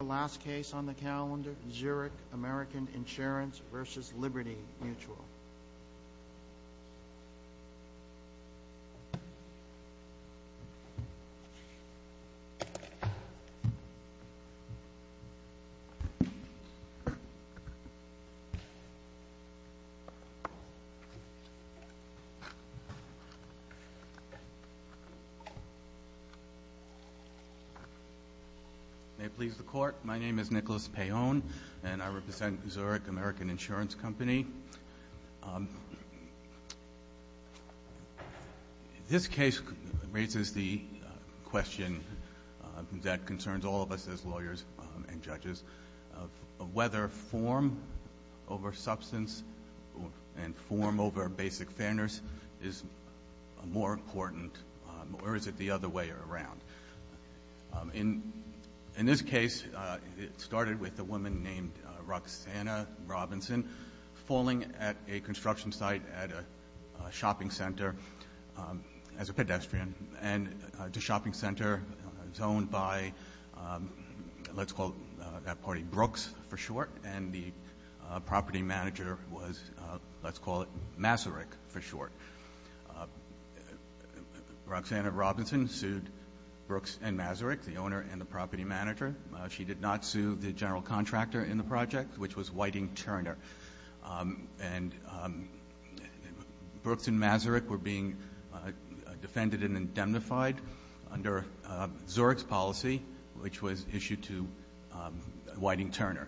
The last case on the calendar, Zurich American Insurance versus Liberty Mutual. May it please the Court, my name is Nicholas Payone, and I represent Zurich American Insurance Company. This case raises the question that concerns all of us as lawyers and judges of whether form over substance and form over basic fairness is more important or is it the other way around. In this case, it started with a woman named Roxanna Robinson falling at a construction site at a shopping center as a pedestrian, and the shopping center was owned by, let's call that party Brooks for short, and the property manager was, let's call it Masaryk for short. Roxanna Robinson sued Brooks and Masaryk, the owner and the property manager. She did not sue the general contractor in the project, which was Whiting-Turner. Brooks and Masaryk were being defended and indemnified under Zurich's policy, which was issued to Whiting-Turner.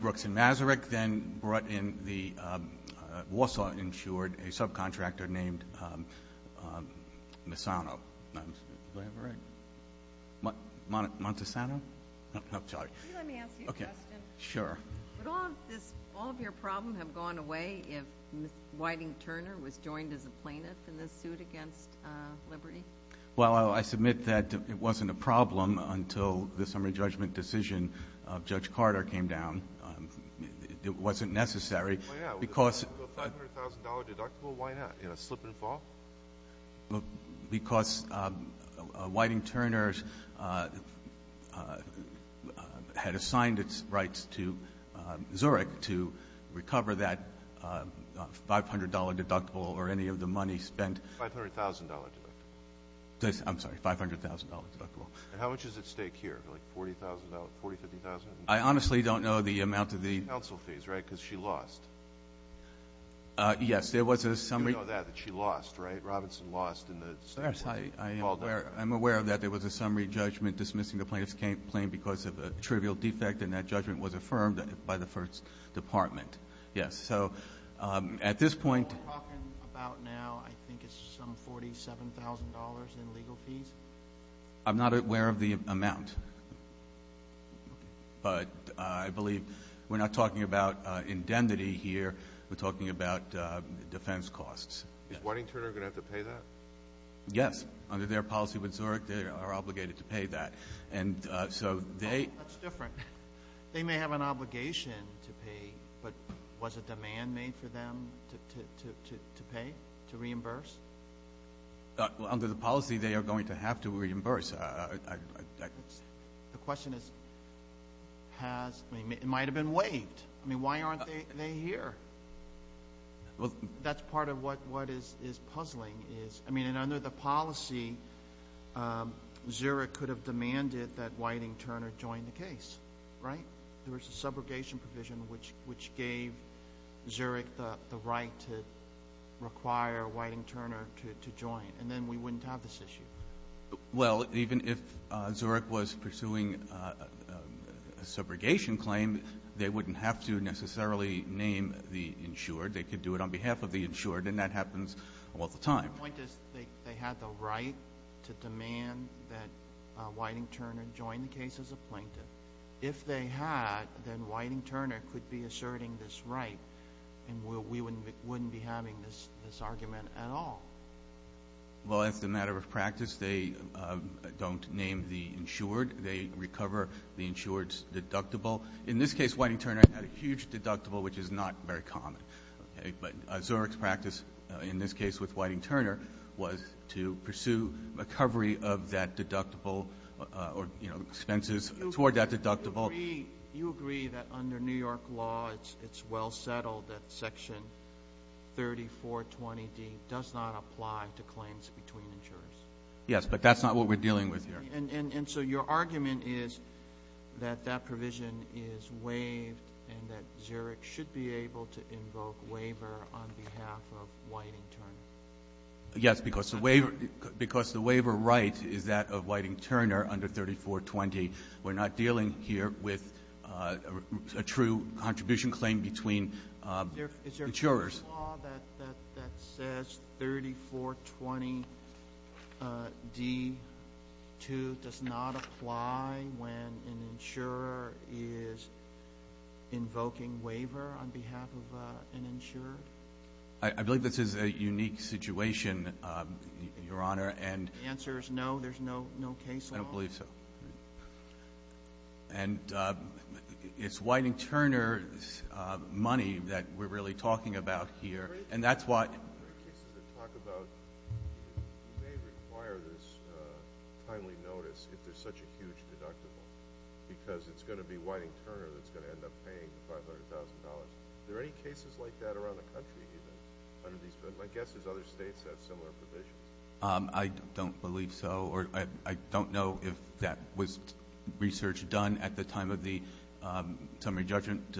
Brooks and Masaryk then brought in the Warsaw insured, a subcontractor named Montessano. Let me ask you a question. Sure. Would all of your problem have gone away if Whiting-Turner was joined as a plaintiff in this suit against Liberty? Well, I submit that it wasn't a problem until the summary judgment decision of Judge Carter came down. It wasn't necessary because — Why not? With a $500,000 deductible, why not? In a slip and fall? Because Whiting-Turner had assigned its rights to Zurich to recover that $500 deductible or any of the money spent — $500,000 deductible. I'm sorry, $500,000 deductible. And how much is at stake here, like $40,000, $40,000, $50,000? I honestly don't know the amount of the — Counsel fees, right? Because she lost. Yes. There was a summary — You know that, that she lost, right? Robinson lost in the — Yes. I'm aware of that. There was a summary judgment dismissing the plaintiff's complaint because of a trivial defect, and that judgment was affirmed by the first department. Yes. So at this point — What we're talking about now, I think it's some $47,000 in legal fees? I'm not aware of the amount. Okay. But I believe we're not talking about indemnity here. We're talking about defense costs. Is Whiting-Turner going to have to pay that? Yes. Under their policy with Zurich, they are obligated to pay that. And so they — That's different. They may have an obligation to pay, but was a demand made for them to pay, to reimburse? Under the policy, they are going to have to reimburse. The question is, has — it might have been waived. I mean, why aren't they here? Well — That's part of what is puzzling is — I mean, and under the policy, Zurich could have demanded that Whiting-Turner join the case, right? There was a subrogation provision which gave Zurich the right to require Whiting-Turner to join. And then we wouldn't have this issue. Well, even if Zurich was pursuing a subrogation claim, they wouldn't have to necessarily name the insured. They could do it on behalf of the insured, and that happens all the time. My point is they had the right to demand that Whiting-Turner join the case as a plaintiff. If they had, then Whiting-Turner could be asserting this right, and we wouldn't be having this argument at all. Well, as a matter of practice, they don't name the insured. They recover the insured's deductible. In this case, Whiting-Turner had a huge deductible, which is not very common. But Zurich's practice in this case with Whiting-Turner was to pursue recovery of that deductible or expenses toward that deductible. You agree that under New York law, it's well settled that Section 3420D does not apply to claims between insurers? Yes, but that's not what we're dealing with here. And so your argument is that that provision is waived and that Zurich should be able to invoke waiver on behalf of Whiting-Turner? Yes, because the waiver right is that of Whiting-Turner under 3420. We're not dealing here with a true contribution claim between insurers. Is there a law that says 3420D2 does not apply when an insurer is invoking waiver on behalf of an insurer? I believe this is a unique situation, Your Honor. The answer is no, there's no case law? I don't believe so. And it's Whiting-Turner's money that we're really talking about here, and that's why. There are cases that talk about you may require this timely notice if there's such a huge deductible, because it's going to be Whiting-Turner that's going to end up paying $500,000. Are there any cases like that around the country even under these provisions? My guess is other states have similar provisions. I don't believe so, or I don't know if that was research done at the time of the summary judgment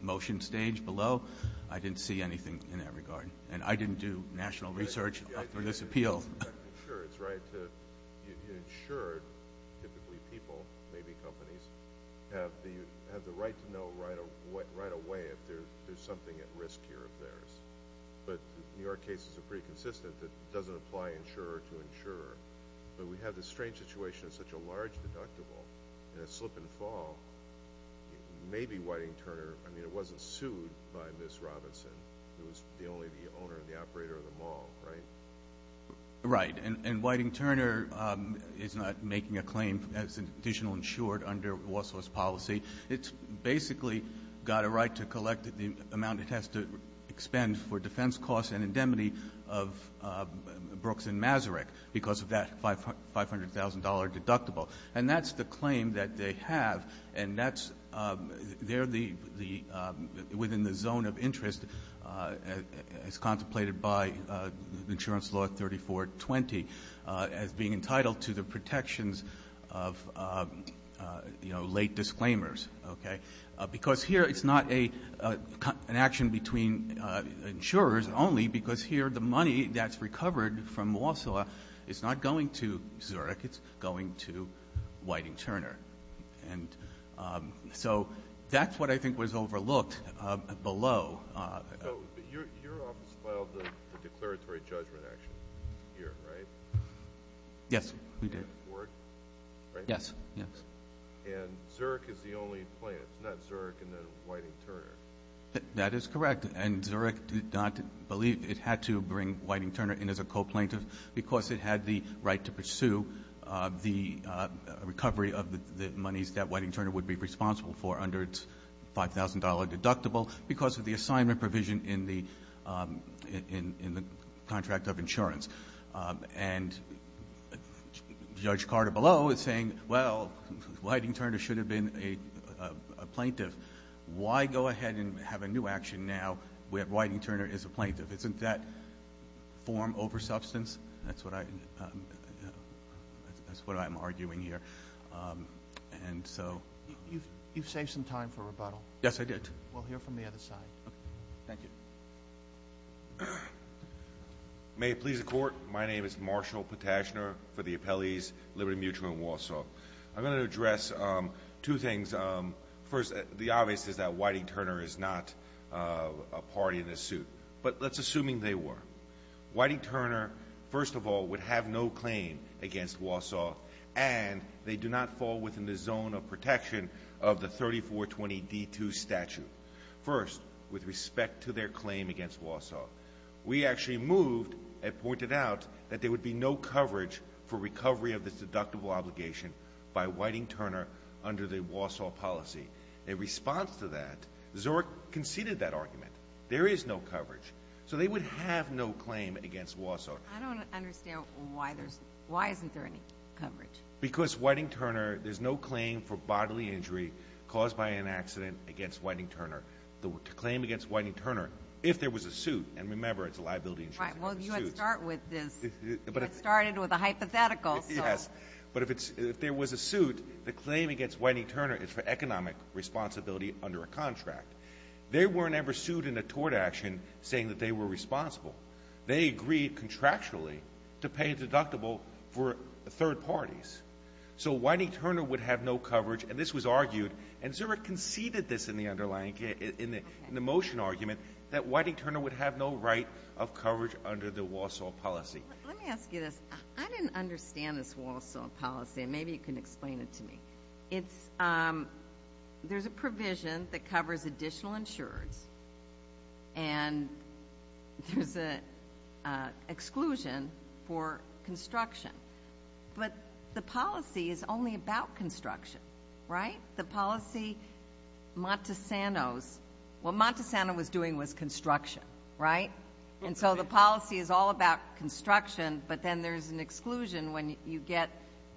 motion stage below. I didn't see anything in that regard. And I didn't do national research for this appeal. Sure, it's right to insure. Typically people, maybe companies, have the right to know right away if there's something at risk here of theirs. But New York cases are pretty consistent that it doesn't apply insurer to insurer. But we have this strange situation of such a large deductible and a slip and fall. Maybe Whiting-Turner, I mean, it wasn't sued by Ms. Robinson. It was only the owner and the operator of the mall, right? Right. And Whiting-Turner is not making a claim as an additional insured under Walsall's policy. It's basically got a right to collect the amount it has to expend for defense costs and indemnity of Brooks and Masaryk because of that $500,000 deductible. And that's the claim that they have, and that's they're the — within the zone of interest as contemplated by insurance law 3420 as being entitled to the protections of, you know, late disclaimers. Okay? Because here it's not an action between insurers only because here the money that's recovered from Walsall is not going to Zurich, it's going to Whiting-Turner. And so that's what I think was overlooked below. So your office filed the declaratory judgment action here, right? Yes, we did. Right? Yes, yes. And Zurich is the only plaintiff. It's not Zurich and then Whiting-Turner. That is correct. And Zurich did not believe it had to bring Whiting-Turner in as a co-plaintiff because it had the right to pursue the recovery of the monies that Whiting-Turner would be responsible for under its $5,000 deductible because of the assignment provision in the contract of insurance. And Judge Carter below is saying, well, Whiting-Turner should have been a plaintiff. Why go ahead and have a new action now where Whiting-Turner is a plaintiff? Isn't that form over substance? That's what I'm arguing here. You've saved some time for rebuttal. Yes, I did. We'll hear from the other side. Okay. Thank you. May it please the Court, my name is Marshall Potashner for the appellees Liberty Mutual and Walsall. I'm going to address two things. First, the obvious is that Whiting-Turner is not a party in this suit. But let's assume they were. Whiting-Turner, first of all, would have no claim against Walsall, and they do not fall within the zone of protection of the 3420D2 statute. First, with respect to their claim against Walsall, we actually moved and pointed out that there would be no coverage for recovery of this deductible obligation by Whiting-Turner under the Walsall policy. In response to that, Zork conceded that argument. There is no coverage. So they would have no claim against Walsall. I don't understand why isn't there any coverage. Because Whiting-Turner, there's no claim for bodily injury caused by an accident against Whiting-Turner. The claim against Whiting-Turner, if there was a suit, and remember, it's a liability insurance. Right, well, you had to start with this. You had started with a hypothetical. Yes, but if there was a suit, the claim against Whiting-Turner is for economic responsibility under a contract. They were never sued in a tort action saying that they were responsible. They agreed contractually to pay a deductible for third parties. So Whiting-Turner would have no coverage, and this was argued, and Zork conceded this in the underlying case, in the motion argument, that Whiting-Turner would have no right of coverage under the Walsall policy. Let me ask you this. I didn't understand this Walsall policy, and maybe you can explain it to me. There's a provision that covers additional insurers, and there's an exclusion for construction. But the policy is only about construction, right? The policy, Montesanos, what Montesanos was doing was construction, right? And so the policy is all about construction, but then there's an exclusion when you get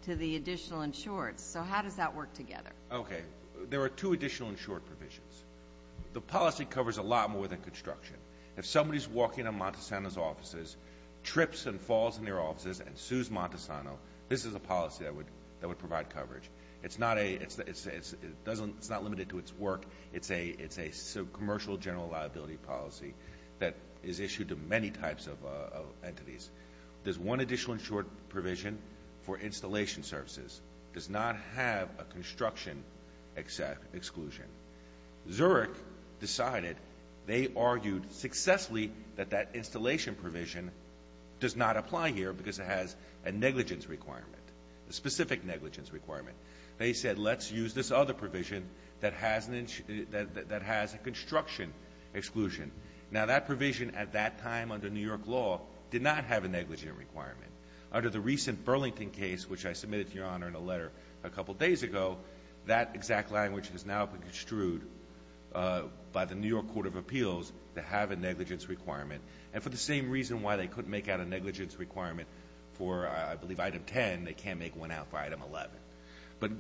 to the additional insurers. So how does that work together? Okay. There are two additional insured provisions. The policy covers a lot more than construction. If somebody's walking in Montesanos' offices, trips and falls in their offices, and sues Montesanos, this is a policy that would provide coverage. It's not limited to its work. There's one additional insured provision for installation services. It does not have a construction exclusion. Zurich decided, they argued successfully that that installation provision does not apply here because it has a negligence requirement, a specific negligence requirement. They said, let's use this other provision that has a construction exclusion. Now, that provision at that time under New York law did not have a negligence requirement. Under the recent Burlington case, which I submitted to Your Honor in a letter a couple days ago, that exact language has now been construed by the New York Court of Appeals to have a negligence requirement. And for the same reason why they couldn't make out a negligence requirement for, I believe, Item 10, they can't make one out for Item 11. But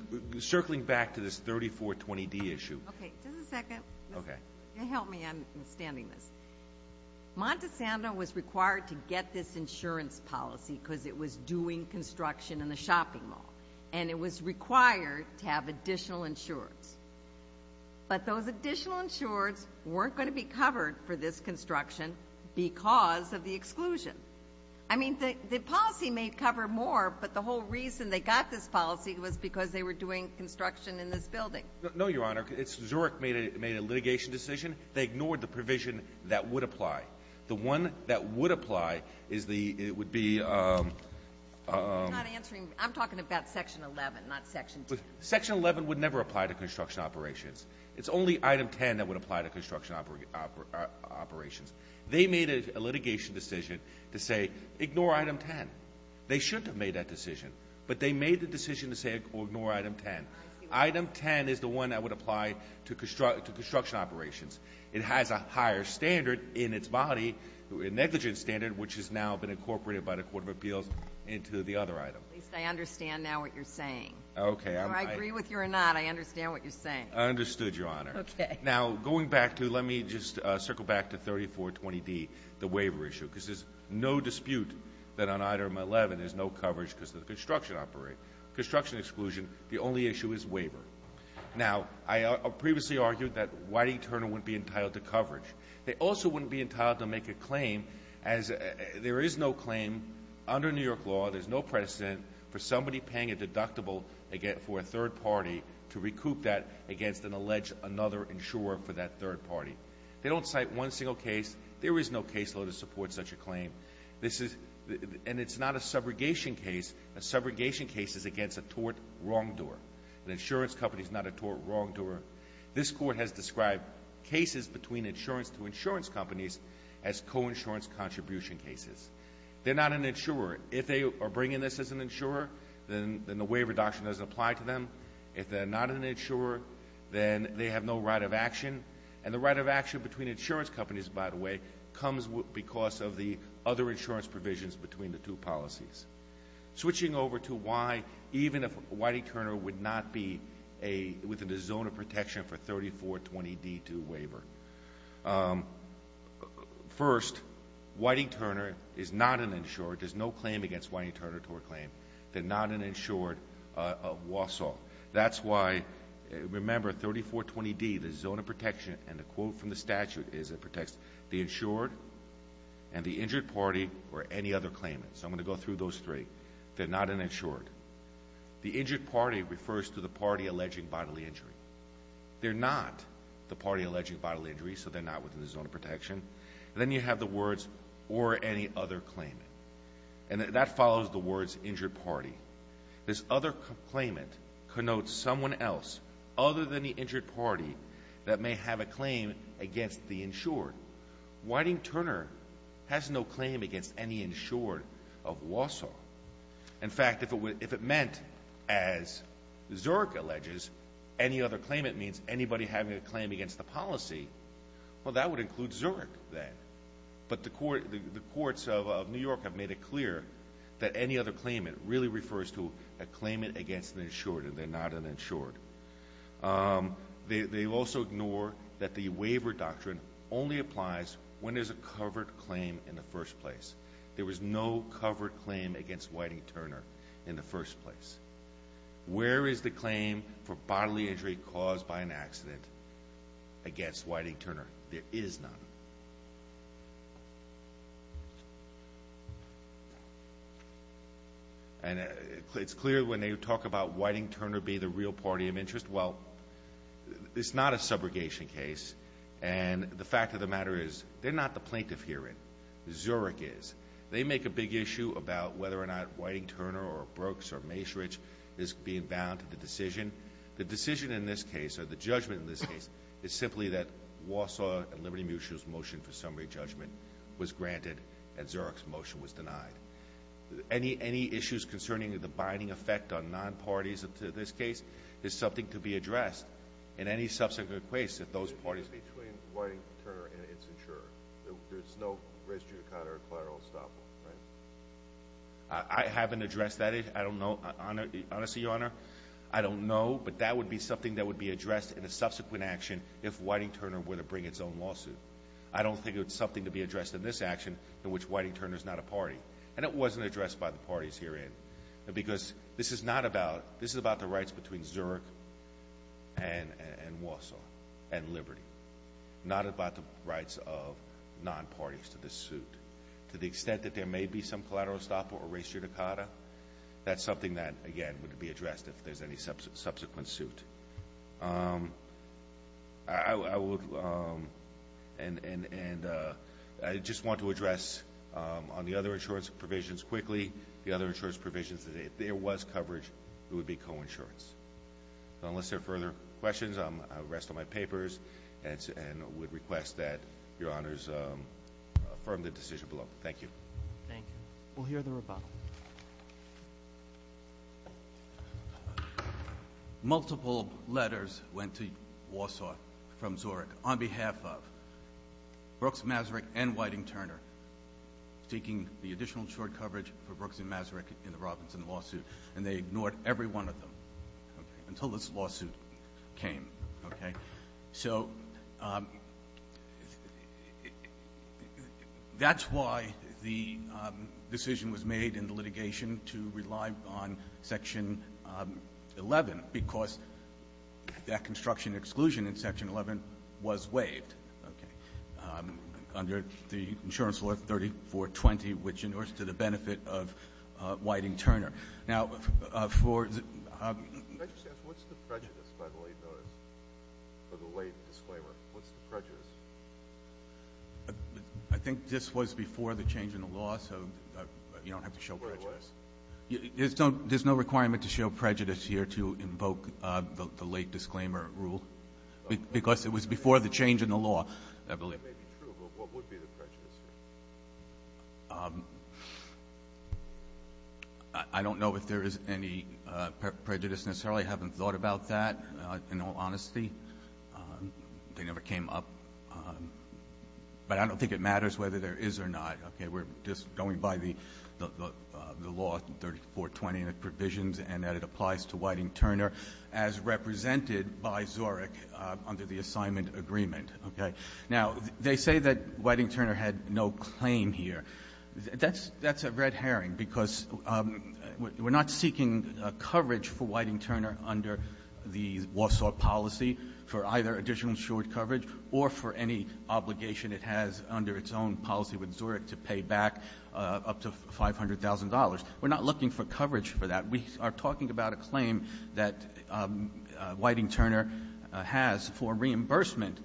circling back to this 3420D issue. Okay. Just a second. Okay. Can you help me understanding this? Montessano was required to get this insurance policy because it was doing construction in the shopping mall. And it was required to have additional insureds. But those additional insureds weren't going to be covered for this construction because of the exclusion. I mean, the policy may cover more, but the whole reason they got this policy was because they were doing construction in this building. No, Your Honor. Zurich made a litigation decision. They ignored the provision that would apply. The one that would apply is the ‑‑ it would be ‑‑ I'm not answering. I'm talking about Section 11, not Section 10. Section 11 would never apply to construction operations. It's only Item 10 that would apply to construction operations. They made a litigation decision to say ignore Item 10. They shouldn't have made that decision. But they made the decision to say ignore Item 10. Item 10 is the one that would apply to construction operations. It has a higher standard in its body, a negligence standard, which has now been incorporated by the Court of Appeals into the other item. At least I understand now what you're saying. Okay. Whether I agree with you or not, I understand what you're saying. I understood, Your Honor. Okay. Now, going back to ‑‑ let me just circle back to 3420D, the waiver issue, because there's no dispute that on Item 11 there's no coverage because of the construction operation. Construction exclusion, the only issue is waiver. Now, I previously argued that Whitey Turner wouldn't be entitled to coverage. They also wouldn't be entitled to make a claim as there is no claim under New York law, there's no precedent for somebody paying a deductible for a third party to recoup that against an alleged another insurer for that third party. They don't cite one single case. There is no caseload to support such a claim. And it's not a subrogation case. A subrogation case is against a tort wrongdoer. An insurance company is not a tort wrongdoer. This Court has described cases between insurance to insurance companies as coinsurance contribution cases. They're not an insurer. If they are bringing this as an insurer, then the waiver doctrine doesn't apply to them. If they're not an insurer, then they have no right of action. And the right of action between insurance companies, by the way, comes because of the other insurance provisions between the two policies. Switching over to why even if Whiting-Turner would not be within the zone of protection for 3420D2 waiver. First, Whiting-Turner is not an insurer. There's no claim against Whiting-Turner tort claim. They're not an insured of Wausau. That's why, remember, 3420D, the zone of protection, and the quote from the statute is it protects the insured and the injured party or any other claimant. So I'm going to go through those three. They're not an insured. The injured party refers to the party alleging bodily injury. They're not the party alleging bodily injury, so they're not within the zone of protection. And then you have the words or any other claimant. And that follows the words injured party. This other claimant connotes someone else other than the injured party that may have a claim against the insured. Whiting-Turner has no claim against any insured of Wausau. In fact, if it meant, as Zurich alleges, any other claimant means anybody having a claim against the policy, well, that would include Zurich then. But the courts of New York have made it clear that any other claimant really refers to a claimant against an insured, and they're not an insured. They also ignore that the waiver doctrine only applies when there's a covered claim in the first place. There was no covered claim against Whiting-Turner in the first place. Where is the claim for bodily injury caused by an accident against Whiting-Turner? There is none. And it's clear when they talk about Whiting-Turner being the real party of interest. Well, it's not a subrogation case, and the fact of the matter is they're not the plaintiff herein. Zurich is. They make a big issue about whether or not Whiting-Turner or Brooks or Maesrich is being bound to the decision. The decision in this case or the judgment in this case is simply that Warsaw and Liberty Mutual's motion for summary judgment was granted and Zurich's motion was denied. Any issues concerning the binding effect on non-parties to this case is something to be addressed in any subsequent case that those parties It's between Whiting-Turner and its insurer. There's no res judicata or collateral estoppel, right? I haven't addressed that issue. I don't know. Honestly, Your Honor, I don't know, but that would be something that would be addressed in a subsequent action if Whiting-Turner were to bring its own lawsuit. I don't think it's something to be addressed in this action in which Whiting-Turner is not a party. And it wasn't addressed by the parties herein because this is not about This is about the rights between Zurich and Warsaw and Liberty, not about the rights of non-parties to this suit. To the extent that there may be some collateral estoppel or res judicata, that's something that, again, would be addressed if there's any subsequent suit. I would and I just want to address on the other insurance provisions quickly. The other insurance provisions, if there was coverage, it would be coinsurance. Unless there are further questions, I'll rest on my papers and would request that Your Honors affirm the decision below. Thank you. Thank you. We'll hear the rebuttal. Multiple letters went to Warsaw from Zurich on behalf of Brooks Masaryk and Whiting-Turner seeking the additional short coverage for Brooks and Masaryk in the Robinson lawsuit, and they ignored every one of them until this lawsuit came. So that's why the decision was made in the litigation to rely on Section 11 because that construction exclusion in Section 11 was waived under the insurance law 3420, which endorsed to the benefit of Whiting-Turner. Now, for the – Can I just ask, what's the prejudice by the late notice or the late disclaimer? What's the prejudice? I think this was before the change in the law, so you don't have to show prejudice. There's no requirement to show prejudice here to invoke the late disclaimer rule because it was before the change in the law, I believe. That may be true, but what would be the prejudice? I don't know if there is any prejudice necessarily. I haven't thought about that, in all honesty. They never came up. But I don't think it matters whether there is or not. We're just going by the law 3420 and the provisions and that it applies to Whiting-Turner as represented by Zurich under the assignment agreement. Okay. Now, they say that Whiting-Turner had no claim here. That's a red herring because we're not seeking coverage for Whiting-Turner under the Warsaw policy for either additional insured coverage or for any obligation it has under its own policy with Zurich to pay back up to $500,000. We're not looking for coverage for that. We are talking about a claim that Whiting-Turner has for reimbursement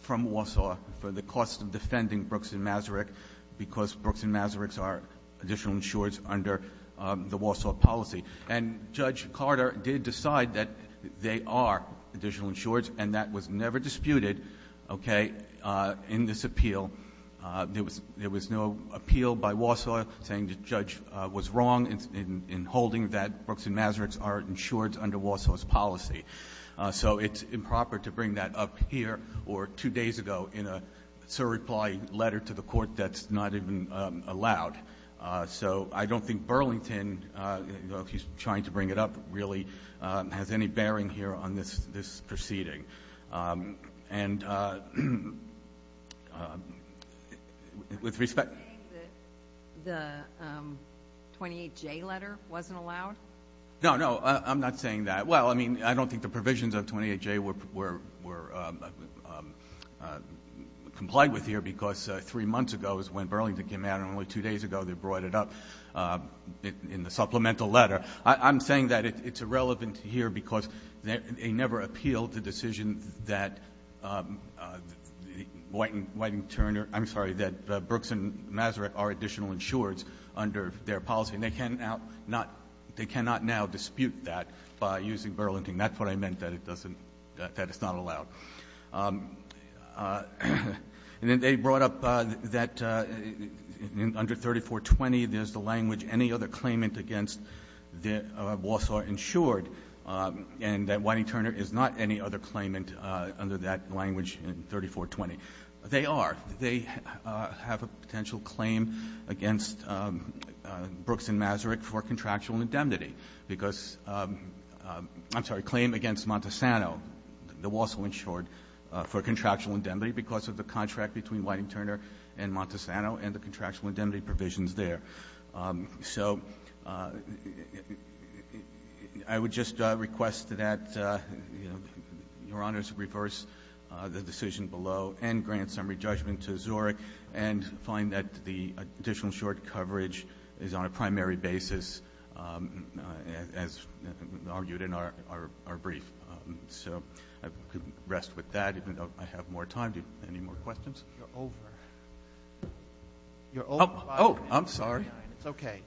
from Warsaw for the cost of defending Brooks and Masaryk because Brooks and Masaryk are additional insured under the Warsaw policy. And Judge Carter did decide that they are additional insured, and that was never disputed in this appeal. There was no appeal by Warsaw saying the judge was wrong in holding that Brooks and Masaryk are insured under Warsaw's policy. So it's improper to bring that up here or two days ago in a surreply letter to the court that's not even allowed. So I don't think Burlington, if he's trying to bring it up, really has any bearing here on this proceeding. And with respect to the 28J letter wasn't allowed? No, no, I'm not saying that. Well, I mean, I don't think the provisions of 28J were complied with here because three months ago is when Burlington came out, and only two days ago they brought it up in the supplemental letter. I'm saying that it's irrelevant here because they never appealed the decision that White and Turner — I'm sorry, that Brooks and Masaryk are additional insured under their policy, and they cannot now dispute that by using Burlington. That's what I meant, that it doesn't — that it's not allowed. And then they brought up that under 3420 there's the language any other claimant against Walsall insured, and that White and Turner is not any other claimant under that language in 3420. They are. They have a potential claim against Brooks and Masaryk for contractual indemnity because — I'm sorry, claim against Montesano, the Walsall insured, for contractual indemnity because of the contract between White and Turner and Montesano and the contractual indemnity provisions there. So I would just request that Your Honors reverse the decision below and grant summary judgment to Zurich and find that the additional short coverage is on a primary basis, as argued in our brief. So I could rest with that, even though I have more time. Do you have any more questions? You're over. Oh, I'm sorry. It's okay.